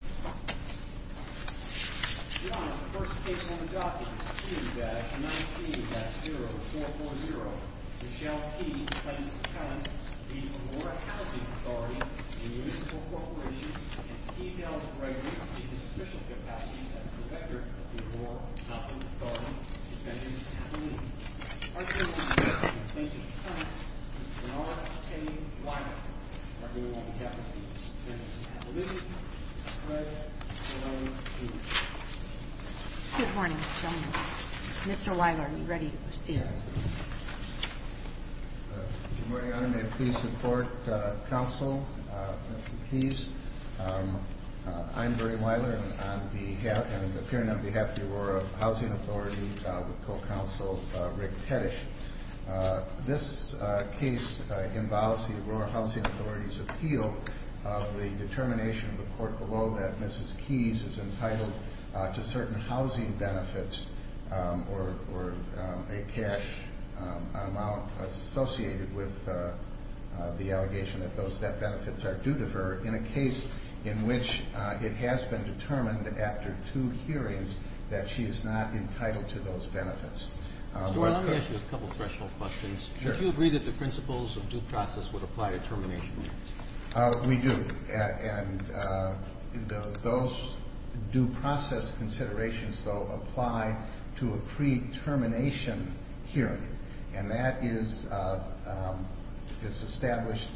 The first case on the docket is Q-19-0440. Michelle P. claims the tenants of the Aurora Housing Authority, a municipal corporation, and emails regularly to the official capacity as director of the Aurora Housing Authority, Mr. Barry Weiler, on behalf of the Aurora Housing Authority, with co-counsel Rick Kedish. This case involves the Aurora Housing Authority's appeal of the determination of the court below that Mrs. Keyes is entitled to certain housing benefits or a cash amount associated with the allegation that those benefits are due to her in a case in which it has been determined after two hearings that she is not entitled to those benefits. Mr. Weiler, let me ask you a couple of special questions. Sure. Do you agree that the principles of due process would apply to termination? We do. And those due process considerations, though, apply to a pre-termination hearing. And that is established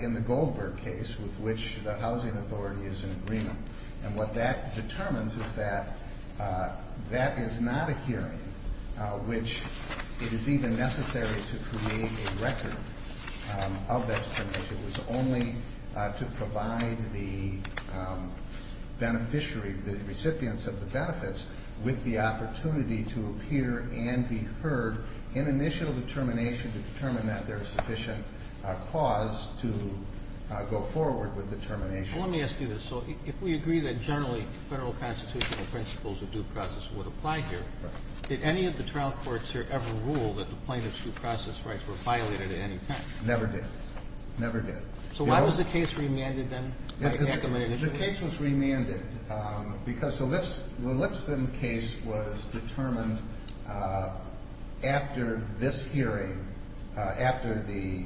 in the Goldberg case with which the Housing Authority is in agreement. And what that determines is that that is not a hearing in which it is even necessary to create a record of that termination. It was only to provide the beneficiary, the recipients of the benefits, with the opportunity to appear and be heard in initial determination to determine that there is sufficient cause to go forward with the termination. Let me ask you this. So if we agree that generally federal constitutional principles of due process would apply here, did any of the trial courts here ever rule that the plaintiff's due process rights were violated at any time? Never did. Never did. So why was the case remanded then? The case was remanded because the Lipscomb case was determined after this hearing, after the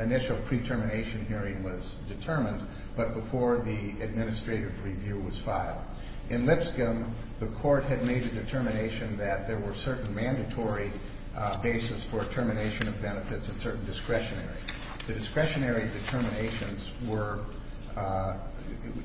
initial pre-termination hearing was determined, but before the administrative review was filed. In Lipscomb, the court had made a determination that there were certain mandatory bases for termination of benefits and certain discretionary. The discretionary determinations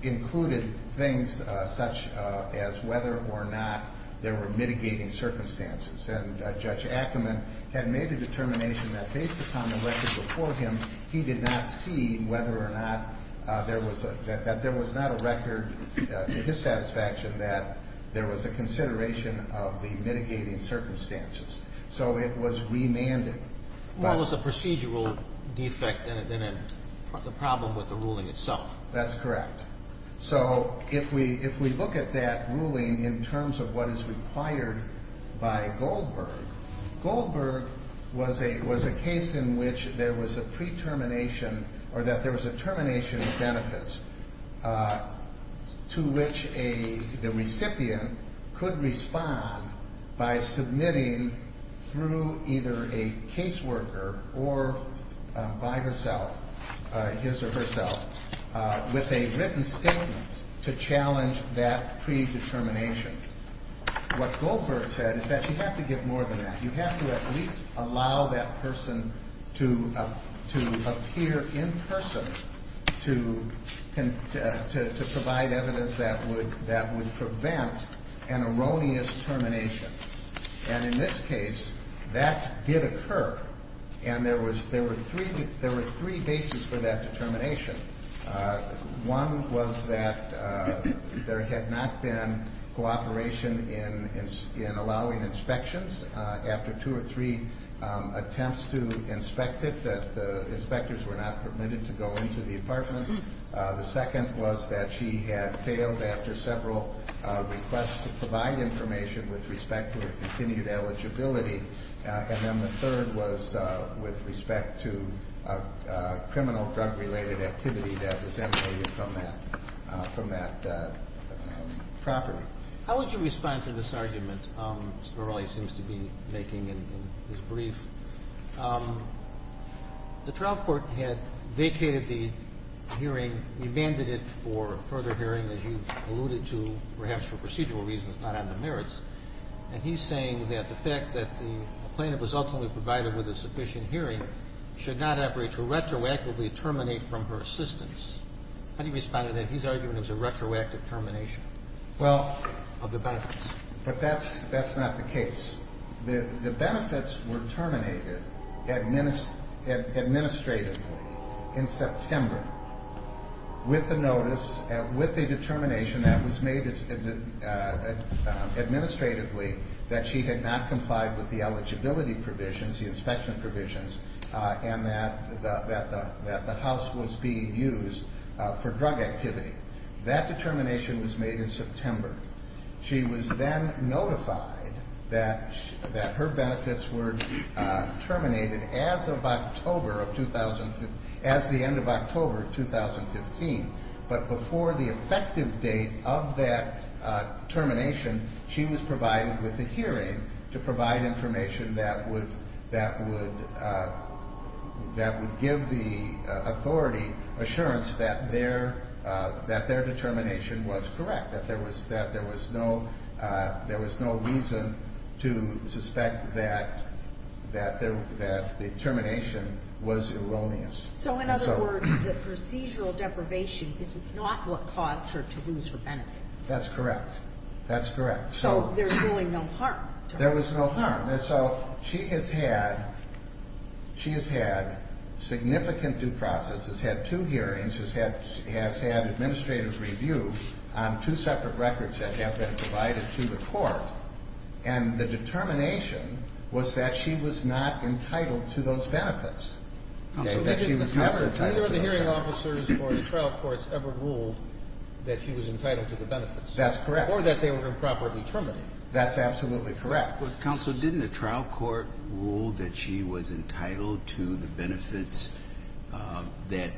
included things such as whether or not there were mitigating circumstances. And Judge Ackerman had made a determination that based upon the record before him, he did not see whether or not there was a – that there was not a record to his satisfaction that there was a consideration of the mitigating circumstances. So it was remanded. Well, it was a procedural defect than a problem with the ruling itself. That's correct. So if we look at that ruling in terms of what is required by Goldberg, Goldberg was a case in which there was a pre-termination or that there was a termination of benefits to which the recipient could respond by submitting through either a caseworker or by herself, his or herself, with a written statement to challenge that pre-determination. What Goldberg said is that you have to get more than that. You have to at least allow that person to appear in person to provide evidence that would prevent an erroneous termination. And in this case, that did occur. And there were three bases for that determination. One was that there had not been cooperation in allowing inspections. After two or three attempts to inspect it, the inspectors were not permitted to go into the apartment. The second was that she had failed after several requests to provide information with respect to her continued eligibility. And then the third was with respect to criminal drug-related activity that was emanated from that property. How would you respond to this argument Mr. O'Reilly seems to be making in his brief? The trial court had vacated the hearing, remanded it for further hearing, as you've alluded to, perhaps for procedural reasons, not on the merits. And he's saying that the fact that the plaintiff was ultimately provided with a sufficient hearing should not operate to retroactively terminate from her assistance. How do you respond to that? He's arguing it was a retroactive termination of the benefits. Well, but that's not the case. The benefits were terminated administratively in September with a determination that was made administratively that she had not complied with the eligibility provisions, the inspection provisions, and that the house was being used for drug activity. That determination was made in September. She was then notified that her benefits were terminated as of October of 2015, as the end of October 2015. But before the effective date of that termination, she was provided with a hearing to provide information that would give the authority assurance that their determination was correct, that there was no reason to suspect that the termination was erroneous. So, in other words, the procedural deprivation is not what caused her to lose her benefits. That's correct. That's correct. So there's really no harm to her. There was no harm. And so she has had significant due process, has had two hearings, has had administrative review on two separate records that have been provided to the court, and the determination was that she was not entitled to those benefits, that she was never entitled to them. Counsel, did either of the hearing officers or the trial courts ever rule that she was entitled to the benefits? That's correct. Or that they were improperly terminated. That's absolutely correct. Counsel, didn't a trial court rule that she was entitled to the benefits that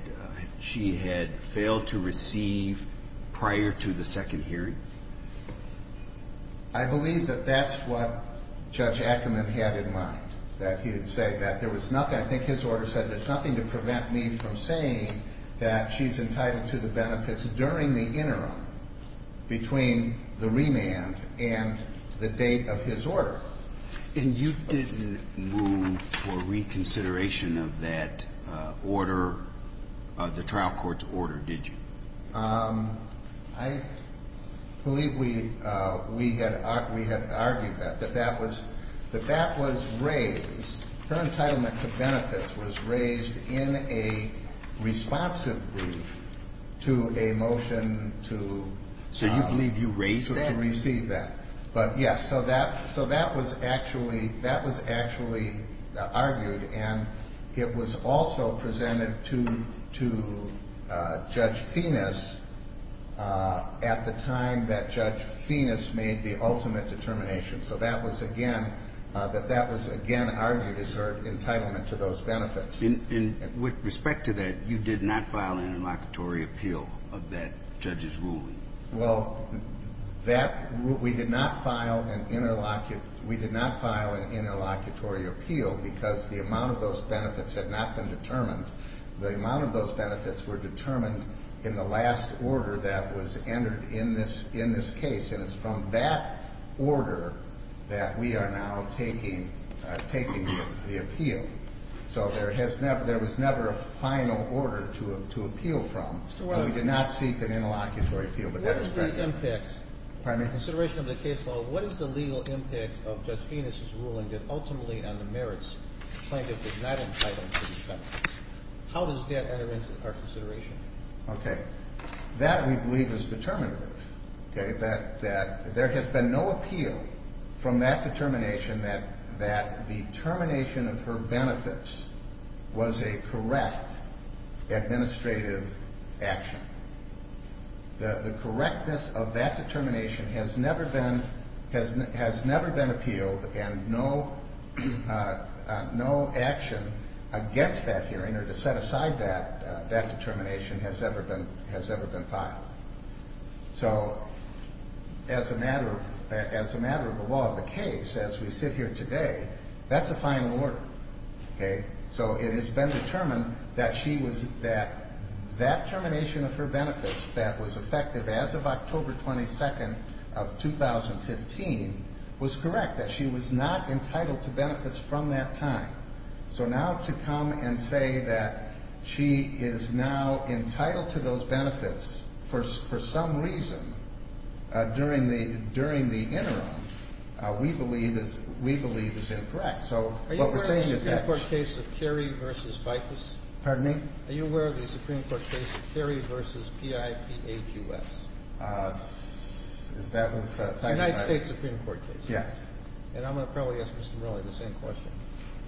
she had failed to receive prior to the second hearing? I believe that that's what Judge Ackerman had in mind, that he would say that there was nothing, I think his order said, that it's nothing to prevent me from saying that she's entitled to the benefits during the interim between the remand and the date of his order. And you didn't move for reconsideration of that order, the trial court's order, did you? I believe we had argued that, that that was raised. Her entitlement to benefits was raised in a responsive brief to a motion to. So you believe you raised that? To receive that. But, yes, so that was actually argued, and it was also presented to Judge Fenis at the time that Judge Fenis made the ultimate determination. So that was again, that that was again argued as her entitlement to those benefits. And with respect to that, you did not file an interlocutory appeal of that judge's ruling? Well, that, we did not file an interlocutory appeal because the amount of those benefits had not been determined. The amount of those benefits were determined in the last order that was entered in this case. And it's from that order that we are now taking the appeal. So there was never a final order to appeal from. And we did not seek an interlocutory appeal, but that was not done. What is the impact? Pardon me? Consideration of the case law, what is the legal impact of Judge Fenis' ruling that ultimately on the merits the plaintiff is not entitled to the benefits? How does that enter into our consideration? Okay. That, we believe, is determinative. Okay. That there has been no appeal from that determination that the termination of her benefits was a correct administrative action. The correctness of that determination has never been appealed and no action against that hearing or to set aside that determination has ever been filed. So as a matter of the law of the case, as we sit here today, that's a final order. Okay. So it has been determined that she was, that that termination of her benefits that was effective as of October 22nd of 2015 was correct, that she was not entitled to benefits from that time. So now to come and say that she is now entitled to those benefits for some reason during the interim, we believe is incorrect. So what we're saying is that she – Are you aware of the Supreme Court case of Carey v. Ficus? Pardon me? Are you aware of the Supreme Court case of Carey v. PIPHUS? That was – The United States Supreme Court case. Yes. And I'm going to probably ask Mr. Morelli the same question.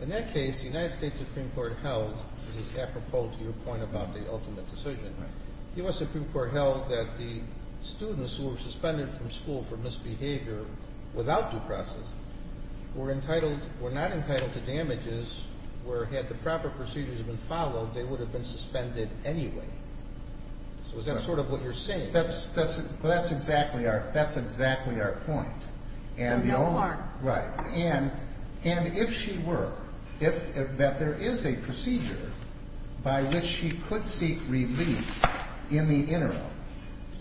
In that case, the United States Supreme Court held – this is apropos to your point about the ultimate decision. Right. The U.S. Supreme Court held that the students who were suspended from school for misbehavior without due process were entitled – were not entitled to damages where had the proper procedures been followed, they would have been suspended anyway. So is that sort of what you're saying? That's – that's exactly our – that's exactly our point. So no more. Right. And if she were – that there is a procedure by which she could seek relief in the interim,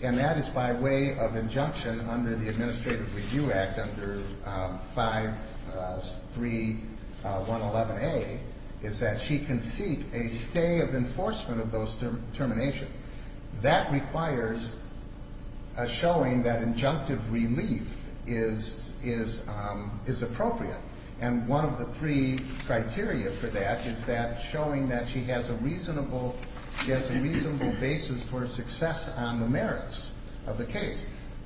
and that is by way of injunction under the Administrative Review Act under 53111A, is that she can seek a stay of enforcement of those terminations. That requires a showing that injunctive relief is – is appropriate. And one of the three criteria for that is that showing that she has a reasonable – she has a reasonable basis for success on the merits of the case.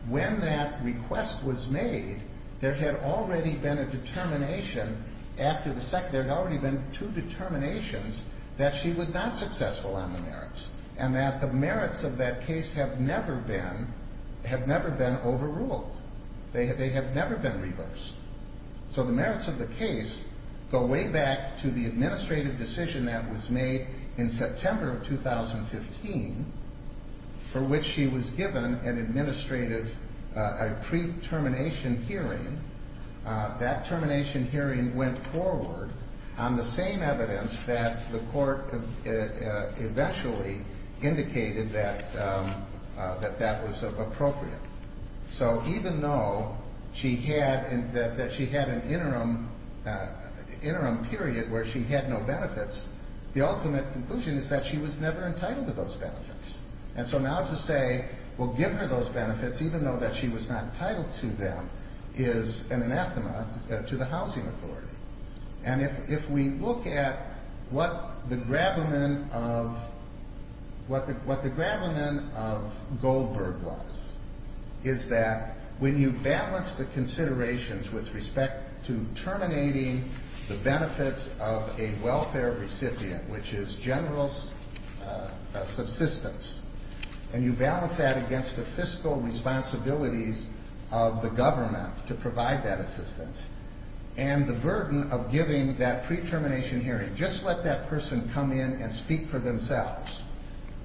When that request was made, there had already been a determination after the – there had already been two determinations that she was not successful on the merits and that the merits of that case have never been – have never been overruled. They have never been reversed. So the merits of the case go way back to the administrative decision that was made in September of 2015 for which she was given an administrative – a pre-termination hearing. That termination hearing went forward on the same evidence that the court eventually indicated that that was appropriate. So even though she had – that she had an interim period where she had no benefits, the ultimate conclusion is that she was never entitled to those benefits. And so now to say, well, give her those benefits even though that she was not entitled to them is an anathema to the housing authority. And if we look at what the gravamen of – what the gravamen of Goldberg was, is that when you balance the considerations with respect to terminating the benefits of a welfare recipient, which is general subsistence, and you balance that against the fiscal responsibilities of the government to provide that assistance and the burden of giving that pre-termination hearing, just let that person come in and speak for themselves,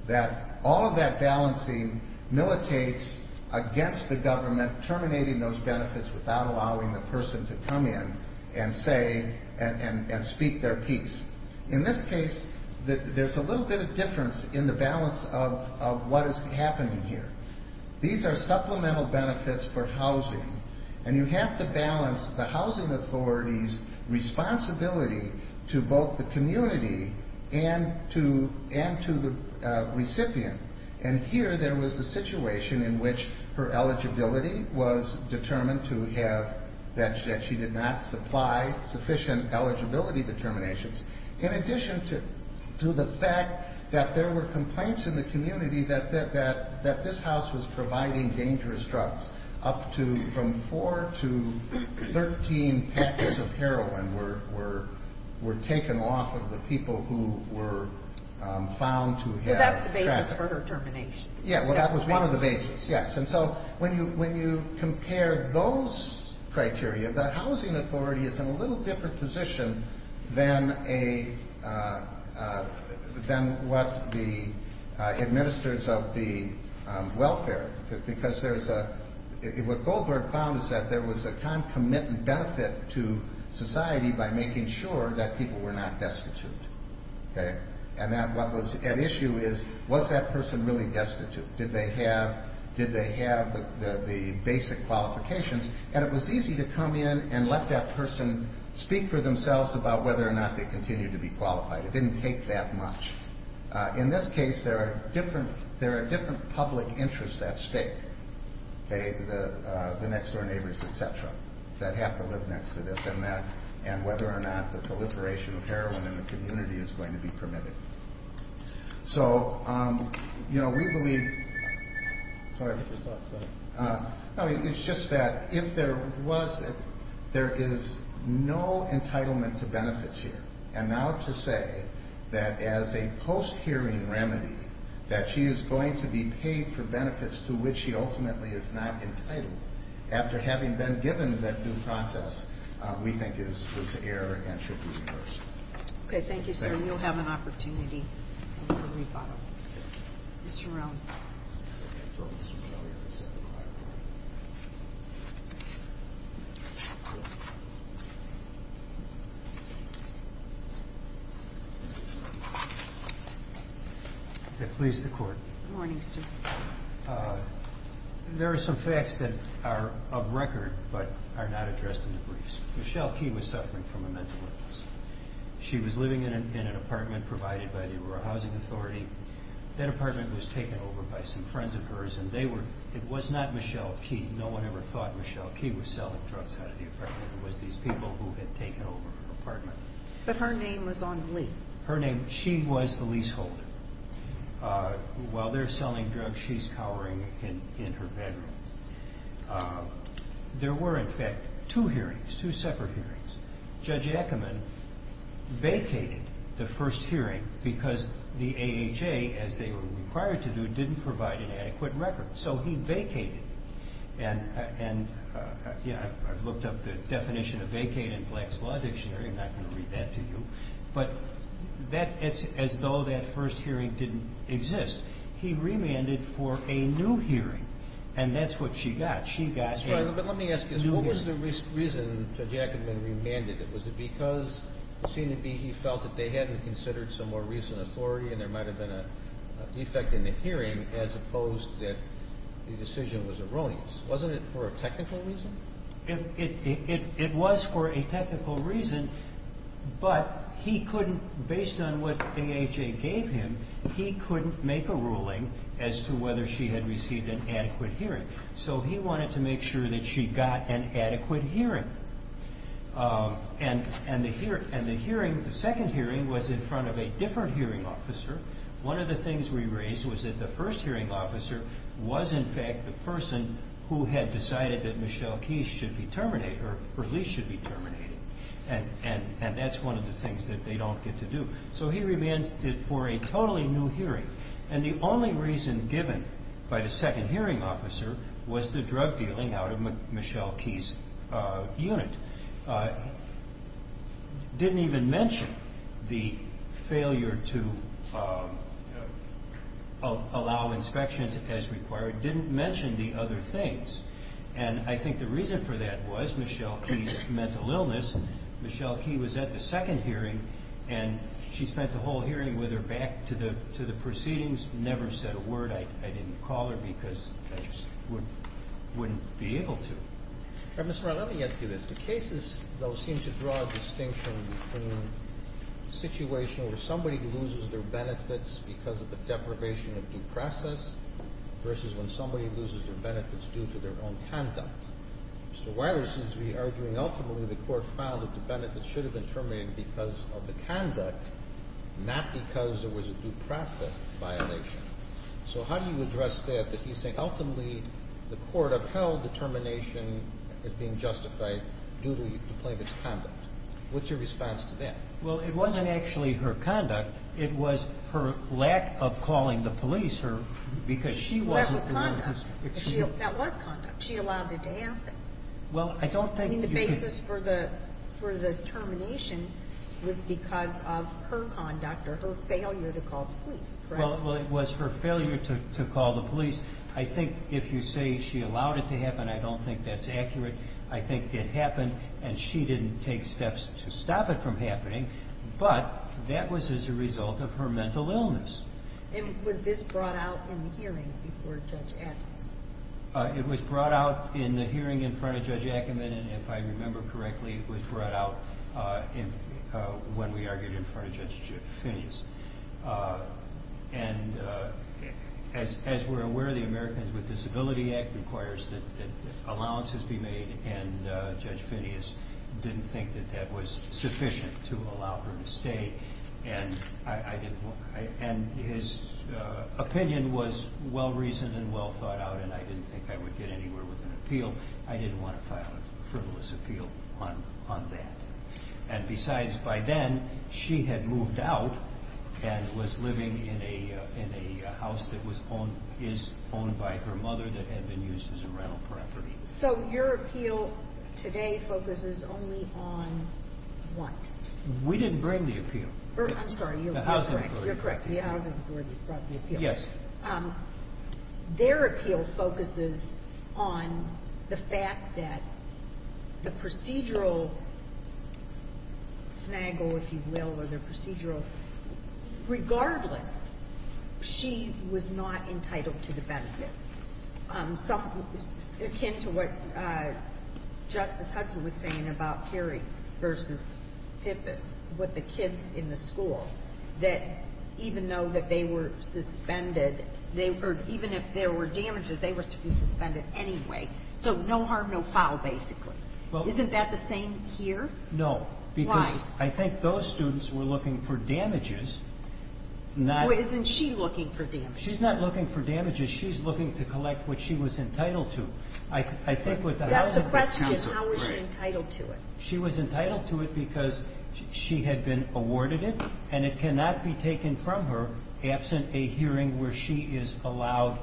that all of that balancing militates against the government terminating those benefits without allowing the person to come in and say – and speak their piece. In this case, there's a little bit of difference in the balance of what is happening here. These are supplemental benefits for housing, and you have to balance the housing authority's responsibility to both the community and to the recipient. And here there was the situation in which her eligibility was determined to have – in addition to the fact that there were complaints in the community that this house was providing dangerous drugs. Up to – from four to 13 packets of heroin were taken off of the people who were found to have – Well, that's the basis for her termination. Yeah, well, that was one of the bases, yes. And so when you compare those criteria, the housing authority is in a little different position than what the administrators of the welfare – because there's a – what Goldberg found is that there was a kind of commitment benefit to society by making sure that people were not destitute, okay? And that what was at issue is, was that person really destitute? Did they have the basic qualifications? And it was easy to come in and let that person speak for themselves about whether or not they continued to be qualified. It didn't take that much. In this case, there are different public interests at stake, okay, the next-door neighbors, et cetera, that have to live next to this and that, and whether or not the proliferation of heroin in the community is going to be permitted. So, you know, we believe – Sorry. No, it's just that if there was – there is no entitlement to benefits here. And now to say that as a post-hearing remedy, that she is going to be paid for benefits to which she ultimately is not entitled, after having been given that due process, we think is an error and should be reversed. Okay, thank you, sir. We'll have an opportunity for rebuttal. Mr. Rowne. Please, the Court. Good morning, sir. There are some facts that are of record but are not addressed in the briefs. Michelle Key was suffering from a mental illness. She was living in an apartment provided by the Rural Housing Authority. That apartment was taken over by some friends of hers, and they were – it was not Michelle Key. No one ever thought Michelle Key was selling drugs out of the apartment. It was these people who had taken over her apartment. But her name was on the lease. Her name – she was the leaseholder. While they're selling drugs, she's cowering in her bedroom. There were, in fact, two hearings, two separate hearings. Judge Ackerman vacated the first hearing because the AHA, as they were required to do, didn't provide an adequate record. So he vacated. And, you know, I've looked up the definition of vacate in Black's Law Dictionary. I'm not going to read that to you. But that – as though that first hearing didn't exist, he remanded for a new hearing, and that's what she got. She got a new hearing. That's right, but let me ask you this. What was the reason Judge Ackerman remanded it? Was it because it seemed to be he felt that they hadn't considered some more recent authority and there might have been a defect in the hearing as opposed to that the decision was erroneous? Wasn't it for a technical reason? It was for a technical reason, but he couldn't – based on what AHA gave him, he couldn't make a ruling as to whether she had received an adequate hearing. So he wanted to make sure that she got an adequate hearing. And the hearing, the second hearing, was in front of a different hearing officer. One of the things we raised was that the first hearing officer was, in fact, the person who had decided that Michelle Keys should be terminated or at least should be terminated. And that's one of the things that they don't get to do. So he remanded it for a totally new hearing. And the only reason given by the second hearing officer was the drug dealing out of Michelle Keys' unit. Didn't even mention the failure to allow inspections as required. Didn't mention the other things. And I think the reason for that was Michelle Keys' mental illness. Michelle Keys was at the second hearing, and she spent the whole hearing with her back to the proceedings, never said a word. I didn't call her because I just wouldn't be able to. Mr. Rilani, let me ask you this. The cases, though, seem to draw a distinction between a situation where somebody loses their benefits because of the deprivation of due process versus when somebody loses their benefits due to their own conduct. Mr. Weiler seems to be arguing ultimately the court found a defendant that should have been terminated because of the conduct, not because there was a due process violation. So how do you address that, that he's saying ultimately the court upheld the termination as being justified due to the plaintiff's conduct? What's your response to that? Well, it wasn't actually her conduct. It was her lack of calling the police because she wasn't doing her job. That was conduct. She allowed it to happen. I mean, the basis for the termination was because of her conduct or her failure to call the police. Well, it was her failure to call the police. I think if you say she allowed it to happen, I don't think that's accurate. I think it happened, and she didn't take steps to stop it from happening, but that was as a result of her mental illness. And was this brought out in the hearing before Judge Adler? It was brought out in the hearing in front of Judge Ackerman, and if I remember correctly, it was brought out when we argued in front of Judge Finneas. And as we're aware, the Americans with Disabilities Act requires that allowances be made, and Judge Finneas didn't think that that was sufficient to allow her to stay. And his opinion was well-reasoned and well-thought-out, and I didn't think that would get anywhere with an appeal. I didn't want to file a frivolous appeal on that. And besides, by then, she had moved out and was living in a house that is owned by her mother that had been used as a rental property. So your appeal today focuses only on what? We didn't bring the appeal. I'm sorry, you're correct. The housing authority. You're correct. The housing authority brought the appeal. Yes. Their appeal focuses on the fact that the procedural snaggle, if you will, or the procedural, regardless, she was not entitled to the benefits. It's akin to what Justice Hudson was saying about Cary v. Pippus, with the kids in the school, that even though that they were suspended, even if there were damages, they were to be suspended anyway. So no harm, no foul, basically. Isn't that the same here? No. Why? Because I think those students were looking for damages. Well, isn't she looking for damages? She's not looking for damages. She's looking to collect what she was entitled to. That's the question. How was she entitled to it? She was entitled to it because she had been awarded it, and it cannot be taken from her absent a hearing where she is allowed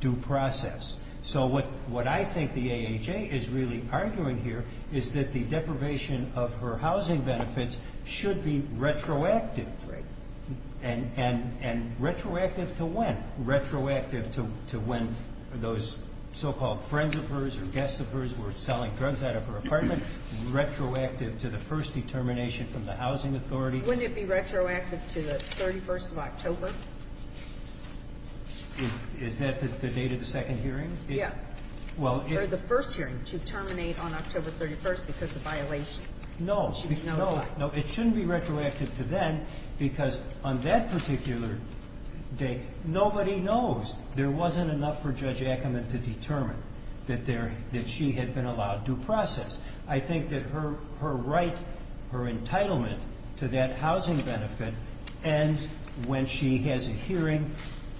due process. So what I think the AHA is really arguing here is that the deprivation of her housing benefits should be retroactive. Right. And retroactive to when? Retroactive to when those so-called friends of hers or guests of hers were selling drugs out of her apartment, retroactive to the first determination from the Housing Authority. Wouldn't it be retroactive to the 31st of October? Is that the date of the second hearing? Yeah. Or the first hearing, to terminate on October 31st because of violations. No. No, it shouldn't be retroactive to then because on that particular date, nobody knows. There wasn't enough for Judge Ackerman to determine that she had been allowed due process. I think that her right, her entitlement to that housing benefit ends when she has a hearing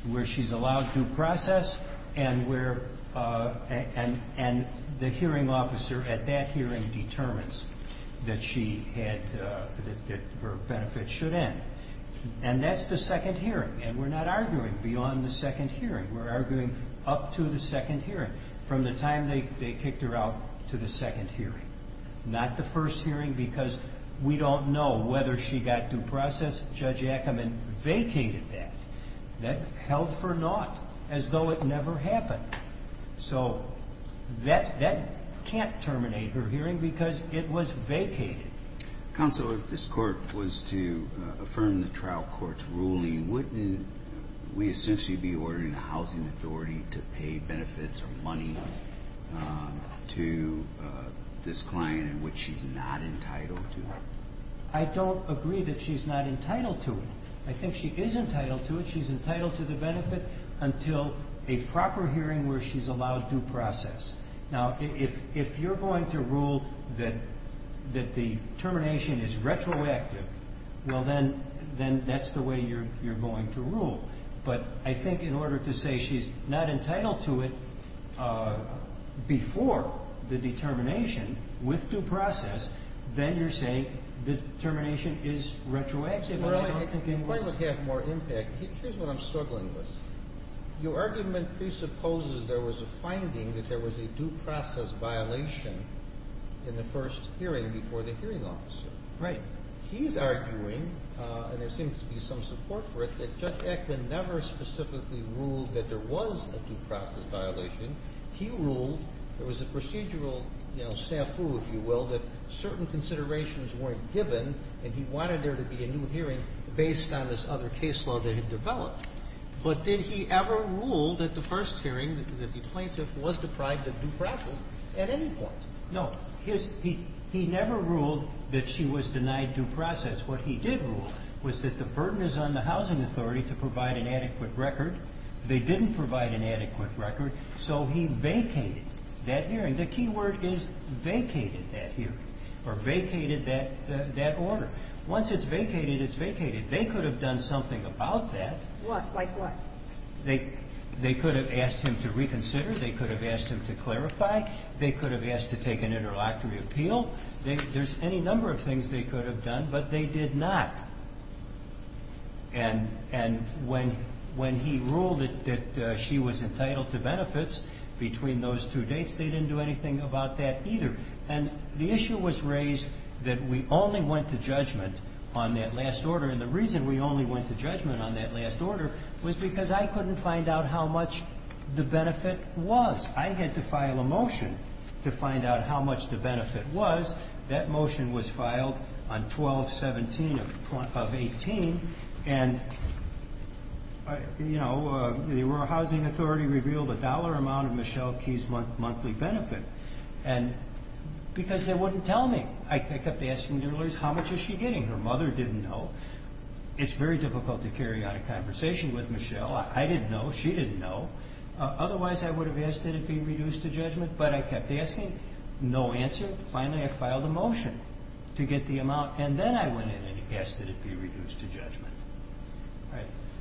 where she's allowed due process and the hearing officer at that hearing determines that her benefits should end. And that's the second hearing. And we're not arguing beyond the second hearing. We're arguing up to the second hearing, from the time they kicked her out to the second hearing, not the first hearing because we don't know whether she got due process. Judge Ackerman vacated that. That held for naught as though it never happened. So that can't terminate her hearing because it was vacated. Counsel, if this court was to affirm the trial court's ruling, wouldn't we essentially be ordering the housing authority to pay benefits or money to this client in which she's not entitled to? I don't agree that she's not entitled to it. I think she is entitled to it. Until a proper hearing where she's allowed due process. Now, if you're going to rule that the termination is retroactive, well, then that's the way you're going to rule. But I think in order to say she's not entitled to it before the determination with due process, then you're saying the termination is retroactive. In order to have more impact, here's what I'm struggling with. Your argument presupposes there was a finding that there was a due process violation in the first hearing before the hearing officer. Right. He's arguing, and there seems to be some support for it, that Judge Ackerman never specifically ruled that there was a due process violation. He ruled there was a procedural snafu, if you will, that certain considerations weren't given, and he wanted there to be a new hearing based on this other case law that had developed. But did he ever rule that the first hearing, that the plaintiff was deprived of due process at any point? No. He never ruled that she was denied due process. What he did rule was that the burden is on the housing authority to provide an adequate record. They didn't provide an adequate record, so he vacated that hearing. The key word is vacated that hearing, or vacated that order. Once it's vacated, it's vacated. They could have done something about that. What? Like what? They could have asked him to reconsider. They could have asked him to clarify. They could have asked to take an interlocutory appeal. There's any number of things they could have done, but they did not. And when he ruled that she was entitled to benefits between those two dates, they didn't do anything about that either. And the issue was raised that we only went to judgment on that last order, and the reason we only went to judgment on that last order was because I couldn't find out how much the benefit was. I had to file a motion to find out how much the benefit was. That motion was filed on 12-17 of 18, and, you know, the Rural Housing Authority revealed a dollar amount of Michelle Key's monthly benefit because they wouldn't tell me. I kept asking the lawyers, how much is she getting? Her mother didn't know. It's very difficult to carry on a conversation with Michelle. I didn't know. She didn't know. Otherwise, I would have asked that it be reduced to judgment, but I kept asking. No answer. Finally, I filed a motion to get the amount, and then I went in and asked that it be reduced to judgment.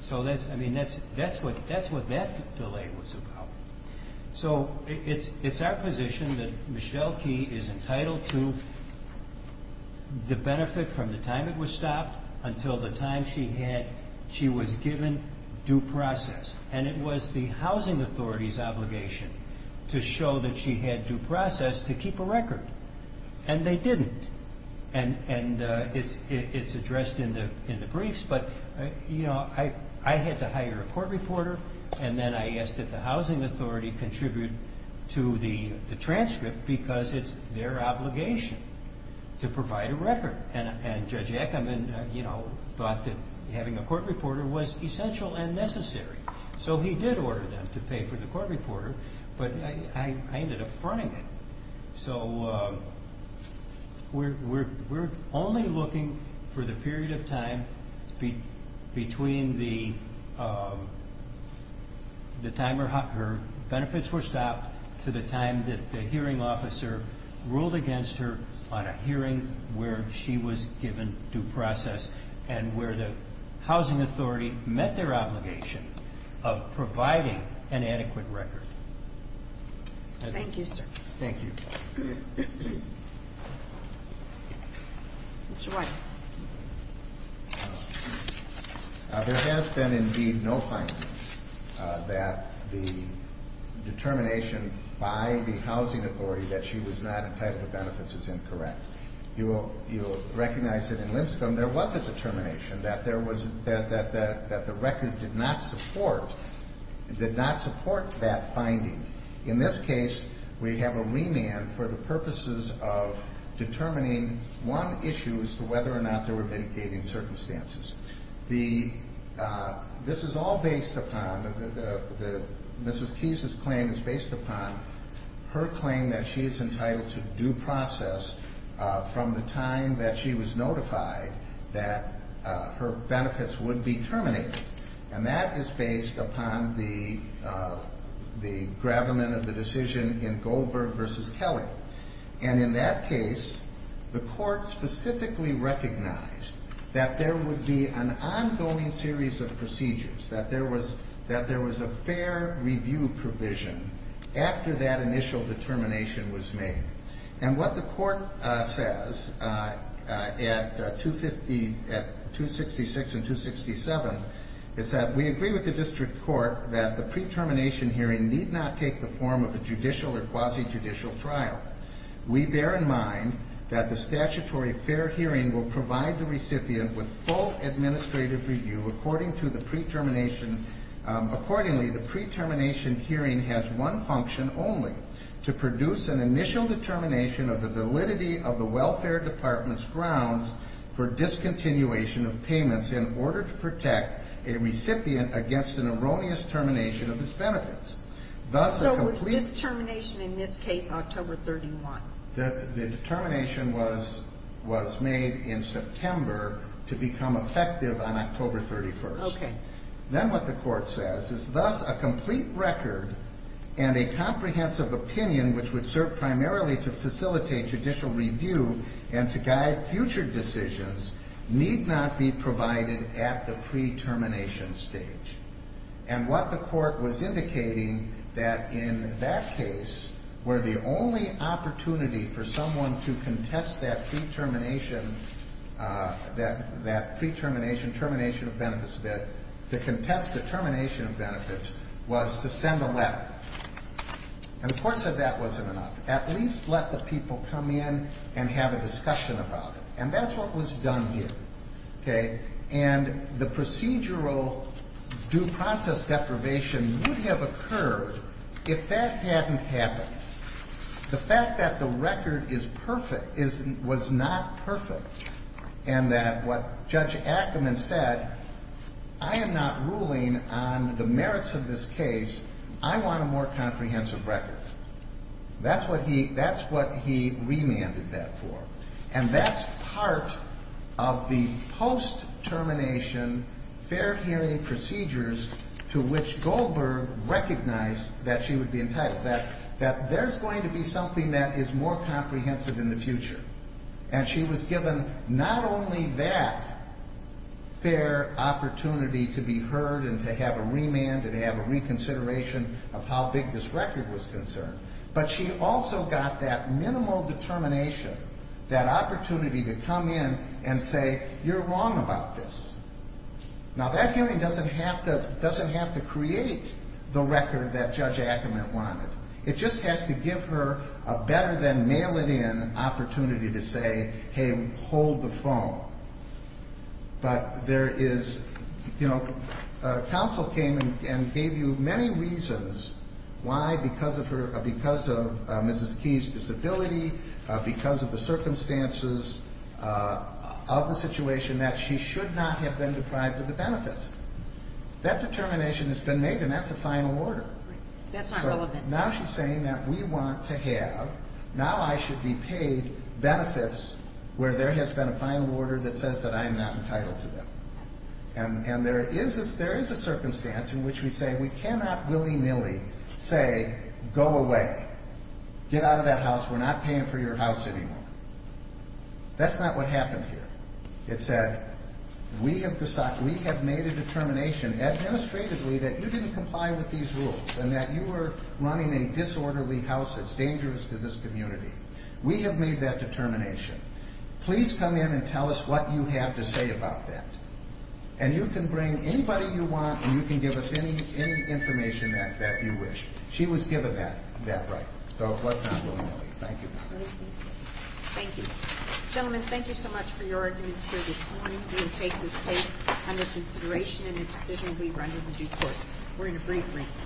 So, I mean, that's what that delay was about. So it's our position that Michelle Key is entitled to the benefit from the time it was stopped until the time she was given due process, and it was the Housing Authority's obligation to show that she had due process to keep a record, and they didn't. And it's addressed in the briefs, but, you know, I had to hire a court reporter, and then I asked that the Housing Authority contribute to the transcript because it's their obligation to provide a record, and Judge Ackerman, you know, thought that having a court reporter was essential and necessary. So he did order them to pay for the court reporter, but I ended up fronting it. So we're only looking for the period of time between the time her benefits were stopped to the time that the hearing officer ruled against her on a hearing where she was given due process and where the Housing Authority met their obligation of providing an adequate record. Thank you, sir. Thank you. Mr. White. There has been, indeed, no findings that the determination by the Housing Authority that she was not entitled to benefits is incorrect. You will recognize that in Limscombe there was a determination that there was that the record did not support that finding. In this case, we have a remand for the purposes of determining one issue as to whether or not there were mitigating circumstances. This is all based upon, Mrs. Keyes's claim is based upon her claim that she is entitled to due process from the time that she was notified that her benefits would be terminated. And that is based upon the gravamen of the decision in Goldberg v. Kelly. And in that case, the court specifically recognized that there would be an ongoing series of procedures, that there was a fair review provision after that initial determination was made. And what the court says at 266 and 267 is that we agree with the district court that the pre-termination hearing need not take the form of a judicial or quasi-judicial trial. We bear in mind that the statutory fair hearing will provide the recipient with full administrative review according to the pre-termination. Accordingly, the pre-termination hearing has one function only, to produce an initial determination of the validity of the welfare department's grounds for discontinuation of payments in order to protect a recipient against an erroneous termination of its benefits. Thus a complete So was this termination in this case October 31? The determination was made in September to become effective on October 31. Okay. Then what the court says is thus a complete record and a comprehensive opinion which would serve primarily to facilitate judicial review and to guide future decisions need not be provided at the pre-termination stage. And what the court was indicating that in that case were the only opportunity for someone to contest that pre-termination, that pre-termination, termination of benefits, that to contest the termination of benefits was to send a letter. And the court said that wasn't enough. At least let the people come in and have a discussion about it. And that's what was done here. Okay. And the procedural due process deprivation would have occurred if that hadn't happened. The fact that the record is perfect was not perfect and that what Judge Ackerman said, I am not ruling on the merits of this case. I want a more comprehensive record. That's what he remanded that for. And that's part of the post-termination fair hearing procedures to which Goldberg recognized that she would be entitled, that there's going to be something that is more comprehensive in the future. And she was given not only that fair opportunity to be heard and to have a remand and have a reconsideration of how big this record was concerned, but she also got that minimal determination, that opportunity to come in and say, you're wrong about this. Now, that hearing doesn't have to create the record that Judge Ackerman wanted. It just has to give her a better than mail-it-in opportunity to say, hey, hold the phone. But there is, you know, counsel came and gave you many reasons why, because of her, because of Mrs. Key's disability, because of the circumstances of the situation, that she should not have been deprived of the benefits. That determination has been made, and that's the final order. That's not relevant. So now she's saying that we want to have, now I should be paid benefits where there has been a final order that says that I'm not entitled to them. And there is a circumstance in which we say we cannot willy-nilly say, go away. Get out of that house. We're not paying for your house anymore. That's not what happened here. It said, we have made a determination administratively that you didn't comply with these rules and that you were running a disorderly house that's dangerous to this community. We have made that determination. Please come in and tell us what you have to say about that. And you can bring anybody you want, and you can give us any information that you wish. She was given that right. So it was not willy-nilly. Thank you. Thank you. Gentlemen, thank you so much for your arguments here this morning. We will take this case under consideration in a decision we run with the due course. We're in a brief recess.